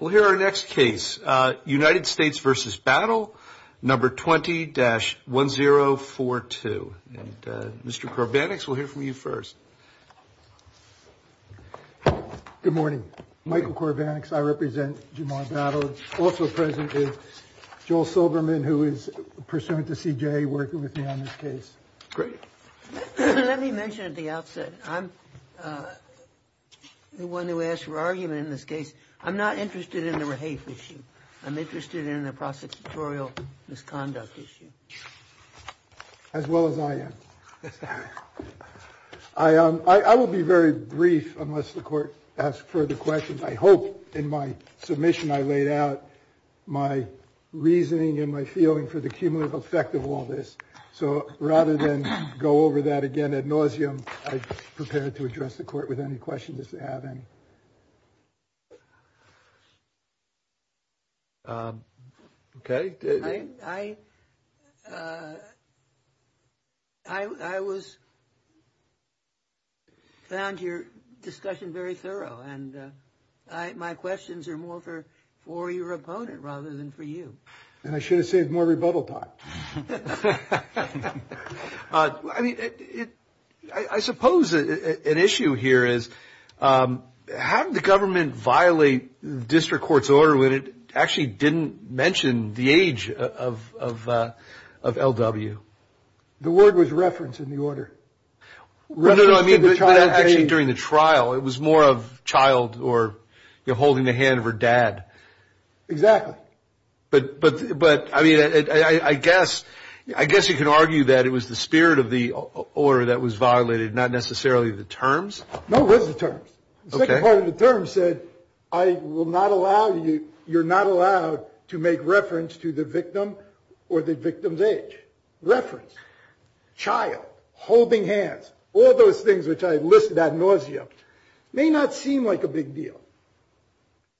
We'll hear our next case, United States v. Battle, No. 20-1042, and Mr. Corbanics, we'll hear from you first. Good morning. Michael Corbanics, I represent Jamal Battle, also present is Joel Silberman, who is pursuant to CJA, working with me on this case. Great. Let me mention at the outset, I'm the one who asked for argument in this case. I'm not interested in the rehafe issue. I'm interested in the prosecutorial misconduct issue. As well as I am. I will be very brief unless the court asks further questions. I hope in my submission I laid out my reasoning and my feeling for the cumulative effect of all this. So rather than go over that again ad nauseam, I'm prepared to address the court with any questions if they have any. I found your discussion very thorough, and my questions are more for your opponent rather than for you. And I should have saved more rebuttal time. I mean, I suppose an issue here is how did the government violate district court's order when it actually didn't mention the age of L.W.? The word was reference in the order. No, no, I mean, actually during the trial, it was more of child or holding the hand of her dad. Exactly. But I mean, I guess you can argue that it was the spirit of the order that was violated, not necessarily the terms. No, it was the terms. The second part of the terms said, I will not allow you, you're not allowed to make reference to the victim or the victim's age. Reference, child, holding hands, all those things which I listed ad nauseam may not seem like a big deal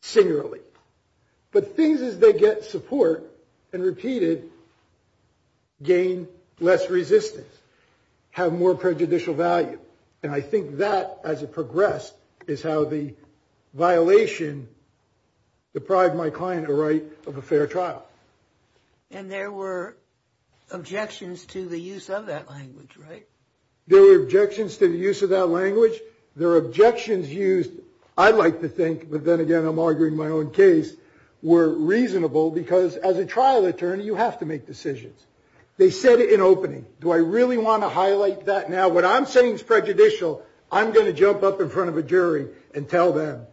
singularly, but things as they get support and repeated gain less resistance, have more prejudicial value. And I think that as it progressed is how the violation deprived my client a right of a fair trial. And there were objections to the use of that language, right? There were objections to the use of that language. There are objections used. I'd like to think. But then again, I'm arguing my own case were reasonable because as a trial attorney, you have to make decisions. They said it in opening. Do I really want to highlight that now? What I'm saying is prejudicial. I'm going to jump up in front of a jury and tell them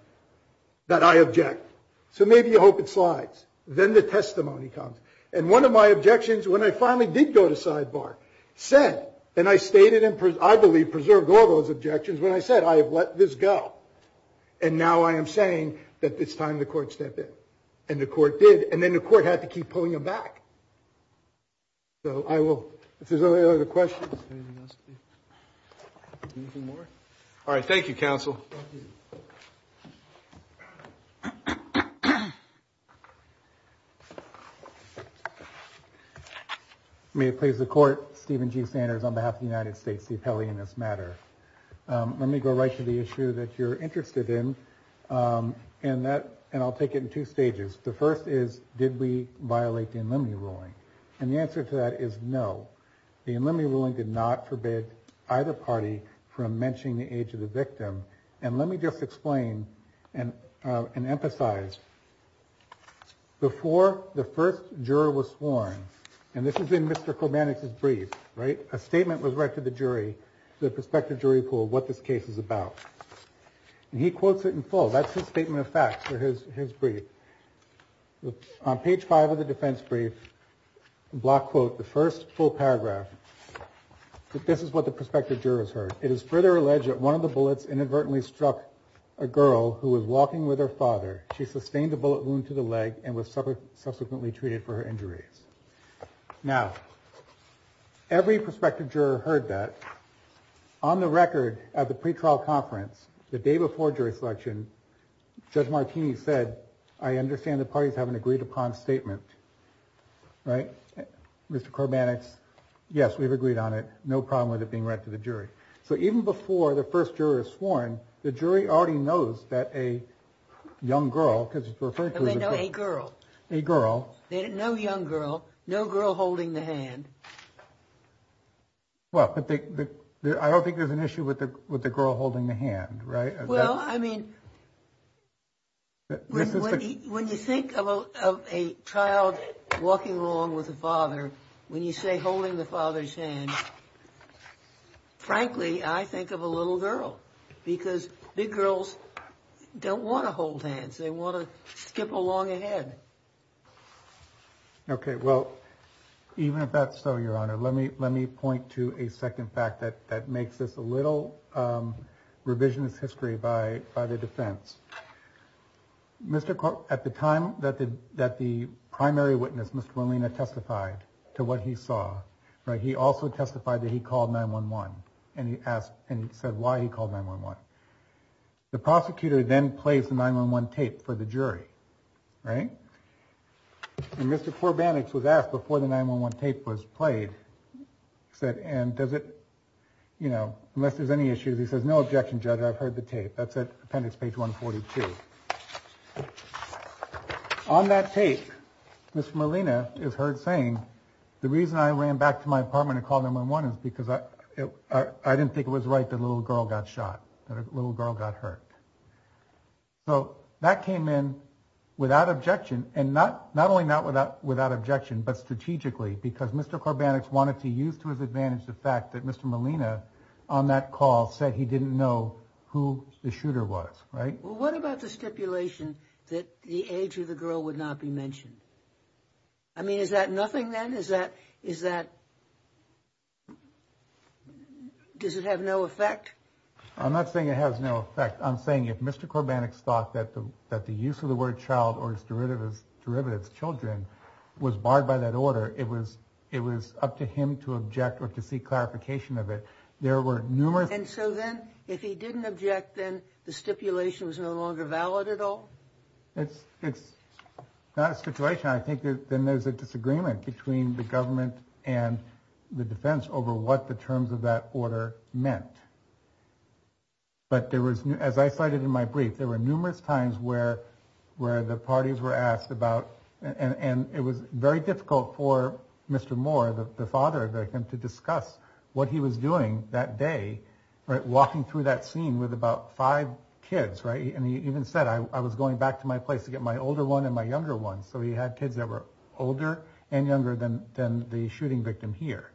that I object. So maybe you hope it slides. Then the testimony comes. And one of my objections, when I finally did go to sidebar, said, and I stated and I believe preserved all those objections when I said I have let this go. And now I am saying that it's time the court step in and the court did. And then the court had to keep pulling them back. So I will, if there's any other questions, anything more. All right. Thank you, counsel. May it please the court, Stephen G. Sanders on behalf of the United States, the appellee in this matter. Let me go right to the issue that you're interested in and that and I'll take it in two stages. The first is, did we violate the in limine ruling? And the answer to that is no. The in limine ruling did not forbid either party from mentioning the age of the victim. And let me just explain and emphasize. Before the first juror was sworn, and this is in Mr. Kormanek's brief, right, a statement was read to the jury, the prospective jury pool, what this case is about. And he quotes it in full. That's his statement of facts for his his brief. On page five of the defense brief, block quote, the first full paragraph. This is what the prospective jurors heard. It is further alleged that one of the bullets inadvertently struck a girl who was walking with her father. She sustained a bullet wound to the leg and was subsequently treated for her injuries. Now, every prospective juror heard that on the record at the pretrial conference the day before jury selection. Judge Martini said, I understand the parties haven't agreed upon statement. Right, Mr. Kormanek's. Yes, we've agreed on it. No problem with it being read to the jury. So even before the first juror is sworn, the jury already knows that a young girl because it's referring to a girl, a girl, no young girl, no girl holding the hand. Well, I don't think there's an issue with the with the girl holding the hand. Right. Well, I mean. When you think of a child walking along with a father, when you say holding the father's hand. Frankly, I think of a little girl because big girls don't want to hold hands, they want to skip along ahead. OK, well, even if that's so, Your Honor, let me let me point to a second fact that that makes this a little revisionist history by by the defense. Mr. Kormanek, at the time that the that the primary witness, Mr. Molina, testified to what he saw. Right. He also testified that he called 9-1-1 and he asked and said why he called 9-1-1. The prosecutor then plays the 9-1-1 tape for the jury. Right. And Mr. Kormanek was asked before the 9-1-1 tape was played, said, and does it, you know, unless there's any issues, he says, no objection, judge. I've heard the tape. That's it. Appendix page 142. On that tape, Mr. Molina is heard saying, the reason I ran back to my apartment and called 9-1-1 is because I didn't think it was right that a little girl got shot, that a little girl got hurt. So that came in without objection and not not only not without without objection, but strategically, because Mr. Kormanek wanted to use to his advantage the fact that Mr. Molina on that call said he didn't know who the shooter was. Right. Well, what about the stipulation that the age of the girl would not be mentioned? I mean, is that nothing then? Is that is that. Does it have no effect? I'm not saying it has no effect. I'm saying if Mr. Kormanek thought that the that the use of the word child or his derivatives, derivatives, children was barred by that order, it was it was up to him to object or to seek clarification of it. There were numerous. And so then if he didn't object, then the stipulation was no longer valid at all. It's it's not a situation. I think then there's a disagreement between the government and the defense over what the terms of that order meant. But there was, as I cited in my brief, there were numerous times where where the parties were asked about and it was very difficult for Mr. Moore, the father of him, to discuss what he was doing that day, walking through that scene with about five kids. Right. And he even said, I was going back to my place to get my older one and my younger one. So he had kids that were older and younger than than the shooting victim here.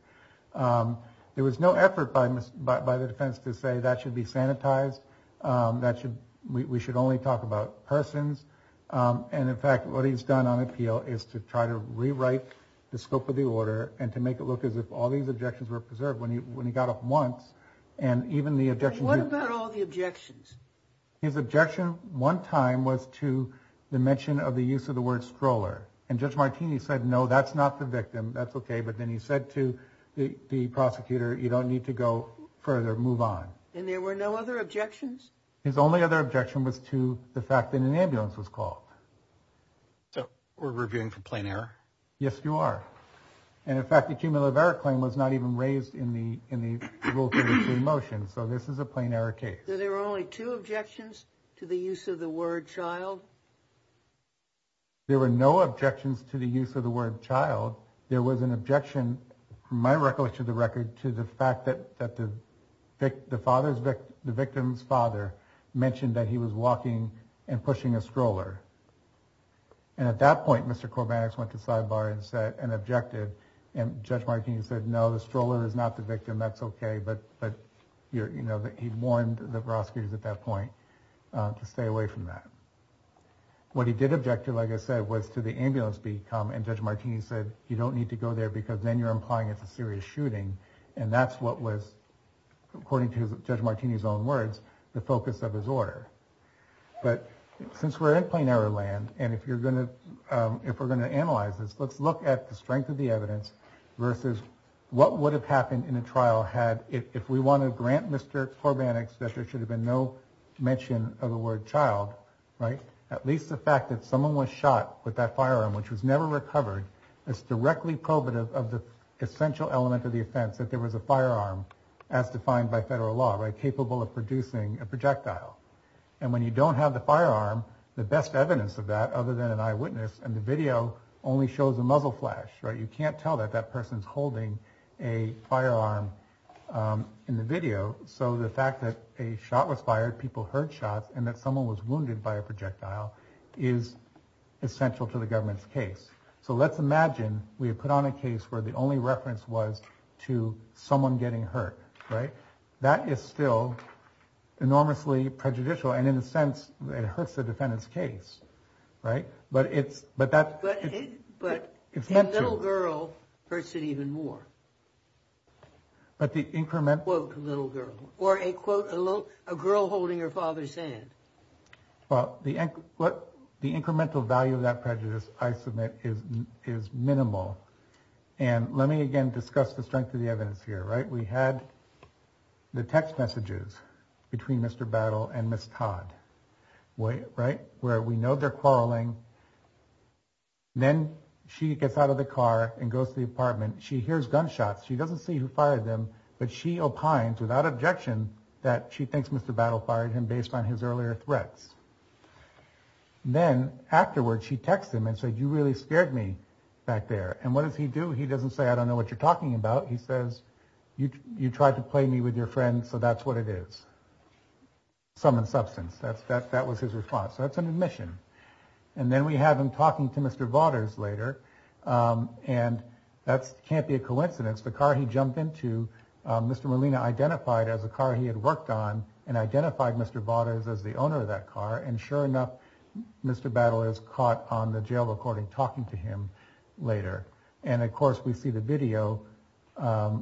There was no effort by by the defense to say that should be sanitized, that we should only talk about persons. And in fact, what he's done on appeal is to try to rewrite the scope of the order and to make it look as if all these objections were preserved when he when he got up once. And even the objection, what about all the objections? His objection one time was to the mention of the use of the word stroller. And Judge Martini said, no, that's not the victim. That's OK. But then he said to the prosecutor, you don't need to go further. Move on. And there were no other objections. His only other objection was to the fact that an ambulance was called. So we're reviewing for plain error. Yes, you are. And in fact, the cumulative error claim was not even raised in the in the motion. So this is a plain error case. There were only two objections to the use of the word child. There were no objections to the use of the word child. There was an objection, from my recollection of the record, to the fact that that the victim's father mentioned that he was walking and pushing a stroller. And at that point, Mr. Corbett went to sidebar and said and objected, and Judge Martini said, no, the stroller is not the victim. That's OK. But but, you know, he warned the prosecutors at that point to stay away from that. What he did object to, like I said, was to the ambulance become and Judge Martini said, you don't need to go there because then you're implying it's a serious shooting. And that's what was, according to Judge Martini's own words, the focus of his order. But since we're in plain error land and if you're going to if we're going to analyze this, let's look at the strength of the evidence versus what would have happened in a trial. Had if we want to grant Mr. Corbett that there should have been no mention of the word child, right? At least the fact that someone was shot with that firearm, which was never recovered. It's directly probative of the essential element of the offense, that there was a firearm as defined by federal law, capable of producing a projectile. And when you don't have the firearm, the best evidence of that other than an eyewitness and the video only shows a muzzle flash. You can't tell that that person's holding a firearm in the video. So the fact that a shot was fired, people heard shots and that someone was wounded by a projectile is essential to the government's case. So let's imagine we have put on a case where the only reference was to someone getting hurt. Right. That is still enormously prejudicial. And in a sense, it hurts the defendant's case. Right. But it's but that's what it's meant to. But a little girl hurts it even more. But the increment. Quote, a little girl or a quote, a little girl holding her father's hand. Well, the what the incremental value of that prejudice, I submit, is is minimal. And let me again discuss the strength of the evidence here. Right. We had the text messages between Mr. Battle and Miss Todd. Way right where we know they're quarreling. Then she gets out of the car and goes to the apartment, she hears gunshots, she doesn't see who fired them, but she opines without objection that she thinks Mr. Battle fired him based on his earlier threats. Then afterwards, she texts him and said, you really scared me back there. And what does he do? He doesn't say, I don't know what you're talking about. He says, you tried to play me with your friend. So that's what it is. Some in substance, that's that that was his response. So that's an admission. And then we have him talking to Mr. Vaughters later. And that's can't be a coincidence. The car he jumped into, Mr. Molina identified as a car he had worked on and identified Mr. Vaughters as the owner of that car. And sure enough, Mr. Battle is caught on the jail recording talking to him later. And of course, we see the video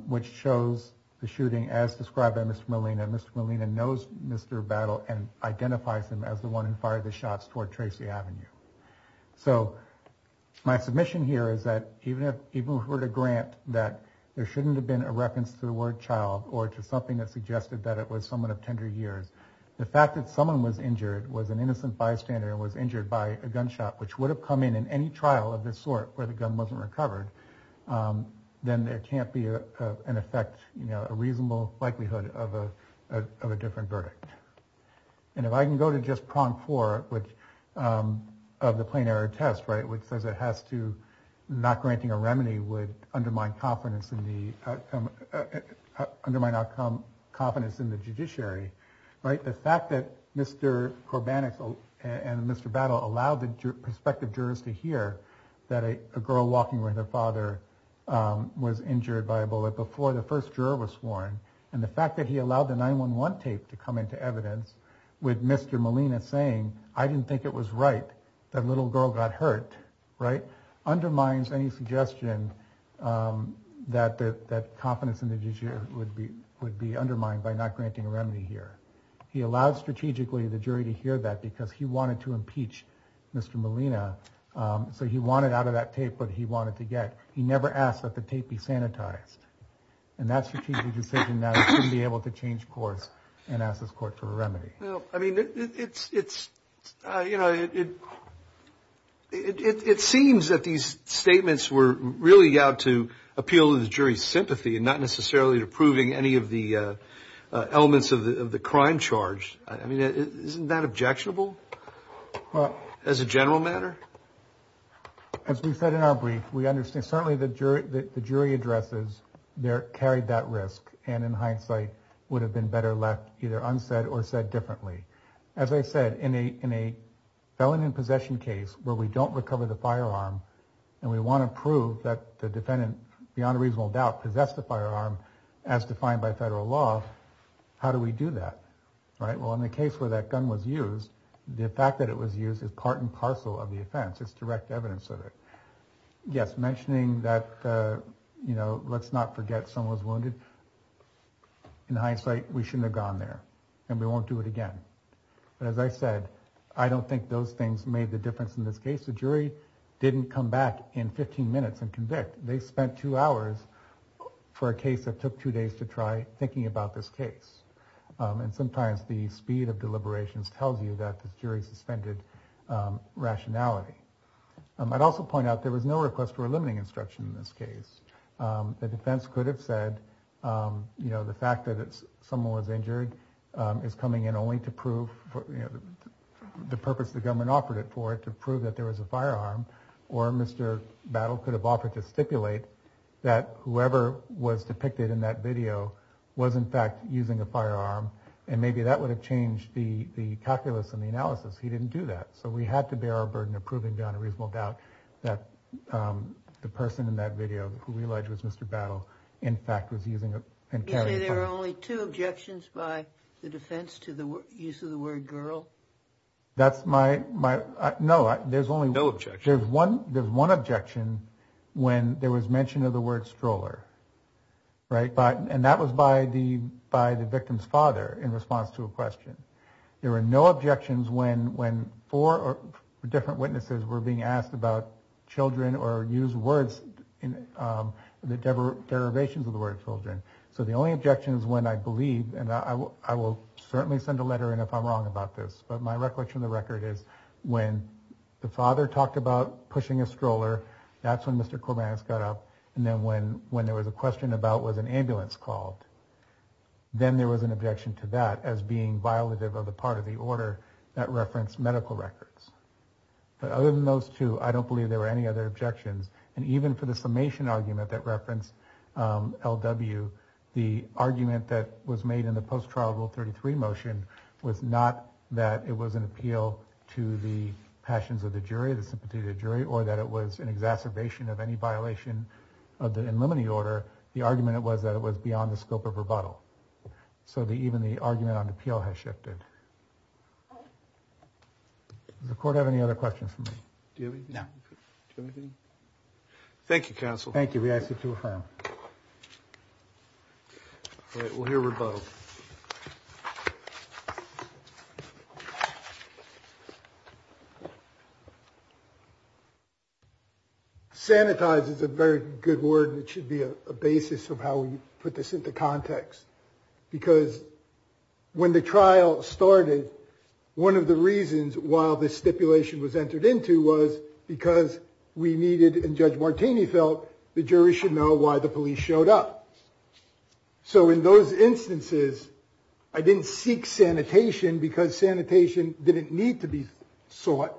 which shows the shooting as described by Mr. Molina. Mr. Molina knows. Mr. Battle and identifies him as the one who fired the shots toward Tracy Avenue. So my submission here is that even if even if we're to grant that there shouldn't have been a reference to the word child or to something that suggested that it was someone of tender years, the fact that someone was injured, was an innocent bystander and was injured by a gunshot, which would have come in in any trial of this sort where the gun wasn't recovered, then there can't be an effect, a different verdict. And if I can go to just prong for which of the plain error test, right, which says it has to not granting a remedy would undermine confidence in the undermine our confidence in the judiciary. Right. The fact that Mr. Corban and Mr. Battle allowed the prospective jurors to hear that a girl walking with her father was injured by a bullet before the first juror was sworn. And the fact that he allowed the 9-1-1 tape to come into evidence with Mr. Molina saying, I didn't think it was right. That little girl got hurt. Right. Undermines any suggestion that that confidence in the judiciary would be would be undermined by not granting a remedy here. He allowed strategically the jury to hear that because he wanted to impeach Mr. Molina. So he wanted out of that tape what he wanted to get. He never asked that the tape be sanitized. And that's the key decision that we'll be able to change course and ask this court for a remedy. I mean, it's it's, you know, it. It seems that these statements were really out to appeal to the jury's sympathy and not necessarily approving any of the elements of the crime charge. I mean, isn't that objectionable as a general matter? As we said in our brief, we understand certainly the jury that the jury addresses there carried that risk and in hindsight would have been better left either unsaid or said differently, as I said, in a in a felon in possession case where we don't recover the firearm and we want to prove that the defendant beyond a reasonable doubt possessed the firearm as defined by federal law. How do we do that? Right. Well, in the case where that gun was used, the fact that it was used as part and parcel of the offense, it's direct evidence of it. Yes. Mentioning that, you know, let's not forget someone's wounded. In hindsight, we shouldn't have gone there and we won't do it again. But as I said, I don't think those things made the difference in this case. The jury didn't come back in 15 minutes and convict. They spent two hours for a case that took two days to try thinking about this case. And sometimes the speed of deliberations tells you that the jury suspended rationality. I'd also point out there was no request for a limiting instruction in this case. The defense could have said, you know, the fact that it's someone was injured is coming in only to prove the purpose the government offered it for it to prove that there was a firearm or Mr. Battle could have offered to stipulate that whoever was depicted in that video was in fact using a firearm. He didn't do that. So we had to bear our burden of proving beyond a reasonable doubt that the person in that video who we allege was Mr. Battle, in fact, was using a pen. There are only two objections by the defense to the use of the word girl. That's my my. No, there's only no objection. There's one there's one objection when there was mention of the word stroller. Right. And that was by the by the victim's father. In response to a question, there were no objections when when four or different witnesses were being asked about children or use words in the derivations of the word children. So the only objections when I believe and I will certainly send a letter. And if I'm wrong about this, but my recollection of the record is when the father talked about pushing a stroller, that's when Mr. Corbett's got up. And then when when there was a question about was an ambulance called, then there was an objection to that as being violative of the part of the order that referenced medical records. But other than those two, I don't believe there were any other objections. And even for the summation argument that referenced L.W., the argument that was made in the post-trial rule 33 motion was not that it was an appeal to the passions of the jury, the sympathetic jury, or that it was an exacerbation of any beyond the scope of rebuttal. So the even the argument on appeal has shifted. Does the court have any other questions for me? Do you? No. Thank you, counsel. Thank you. We ask you to affirm. We'll hear rebuttal. Sanitize is a very good word, and it should be a basis of how we put this into context, because when the trial started, one of the reasons why this stipulation was entered into was because we needed and Judge Martini felt the jury should know why the police showed up. So in those instances, I didn't seek sanitation because sanitation didn't need to be sought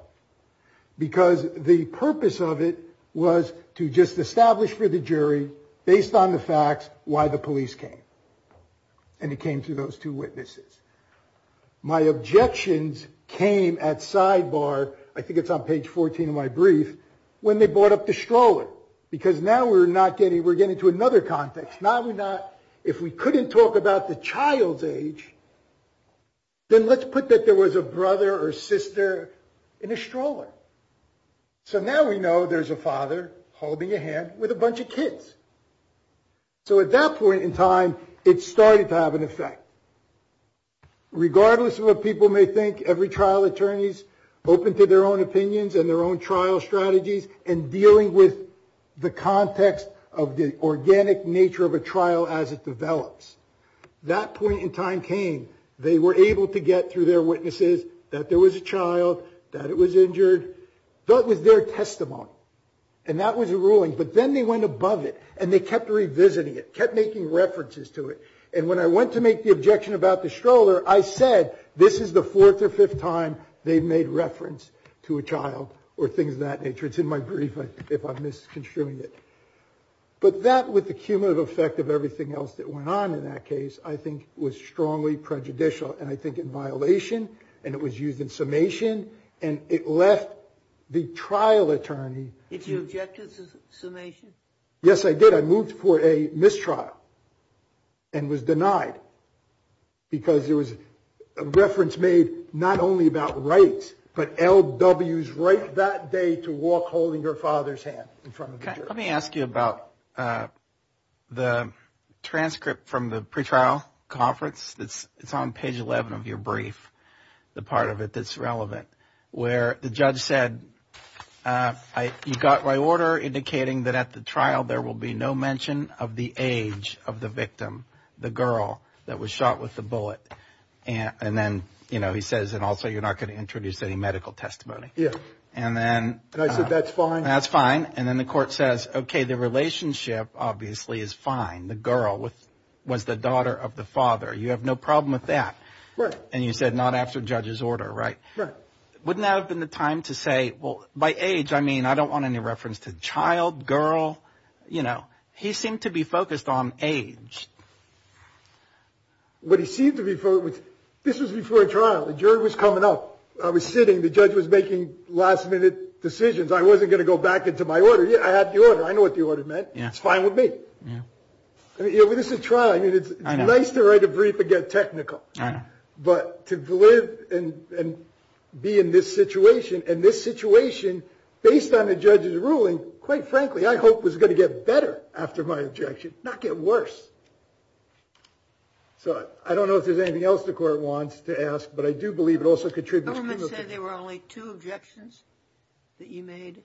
because the purpose of it was to just establish for the jury, based on the facts, why the police came. And it came to those two witnesses. My objections came at sidebar, I think it's on page 14 of my brief, when they brought up the stroller, because now we're not getting we're getting to another context, now we're not, if we couldn't talk about the child's age, then let's put that there was a brother or sister in a stroller. So now we know there's a father holding a hand with a bunch of kids. So at that point in time, it started to have an effect. Regardless of what people may think, every trial attorney's open to their own nature of a trial as it develops. That point in time came, they were able to get through their witnesses that there was a child, that it was injured, that was their testimony. And that was a ruling. But then they went above it and they kept revisiting it, kept making references to it. And when I went to make the objection about the stroller, I said this is the fourth or fifth time they made reference to a child or things of that nature. It's in my brief, if I'm misconstruing it. But that with the cumulative effect of everything else that went on in that case, I think was strongly prejudicial. And I think in violation and it was used in summation and it left the trial attorney. Did you object to the summation? Yes, I did. I moved for a mistrial. And was denied. Because there was a reference made not only about rights, but L.W.'s right that day to walk holding her father's hand in front of the jury. Let me ask you about the transcript from the pretrial conference that's on page 11 of your brief. The part of it that's relevant where the judge said, I got my order indicating that at the trial there will be no mention of the age of the victim, the girl that was shot with the bullet. And then, you know, he says, and also you're not going to introduce any medical testimony. And then I said, that's fine. That's fine. And then the court says, OK, the relationship obviously is fine. The girl was the daughter of the father. You have no problem with that. And you said not after judge's order. Right. Wouldn't that have been the time to say, well, by age, I mean, I don't want any reference to child girl. You know, he seemed to be focused on age. What he seemed to be for this was before a trial. The jury was coming up. I was sitting. The judge was making last minute decisions. I wasn't going to go back into my order. Yeah, I had the order. I know what the order meant. Yeah, it's fine with me. Yeah, this is a trial. I mean, it's nice to write a brief to get technical, but to live and be in this situation and this situation based on the judge's ruling, quite frankly, I hope was going to get better after my objection, not get worse. So I don't know if there's anything else the court wants to ask, but I do believe it government said there were only two objections that you made.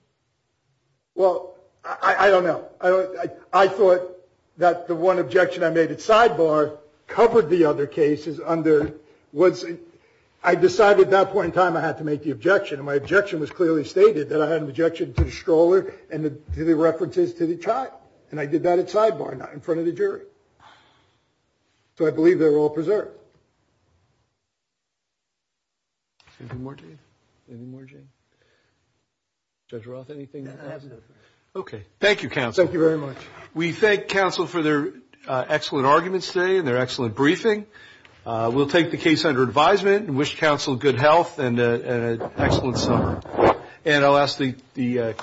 Well, I don't know, I thought that the one objection I made at sidebar covered the other cases under what I decided that point in time I had to make the objection and my objection was clearly stated that I had an objection to the stroller and the references to the child. And I did that at sidebar, not in front of the jury. So I believe they were all preserved. Anything more, Dave? Anything more, Jane? Judge Roth, anything? Okay. Thank you, counsel. Thank you very much. We thank counsel for their excellent arguments today and their excellent briefing. We'll take the case under advisement and wish counsel good health and an excellent summer. And I'll ask the question.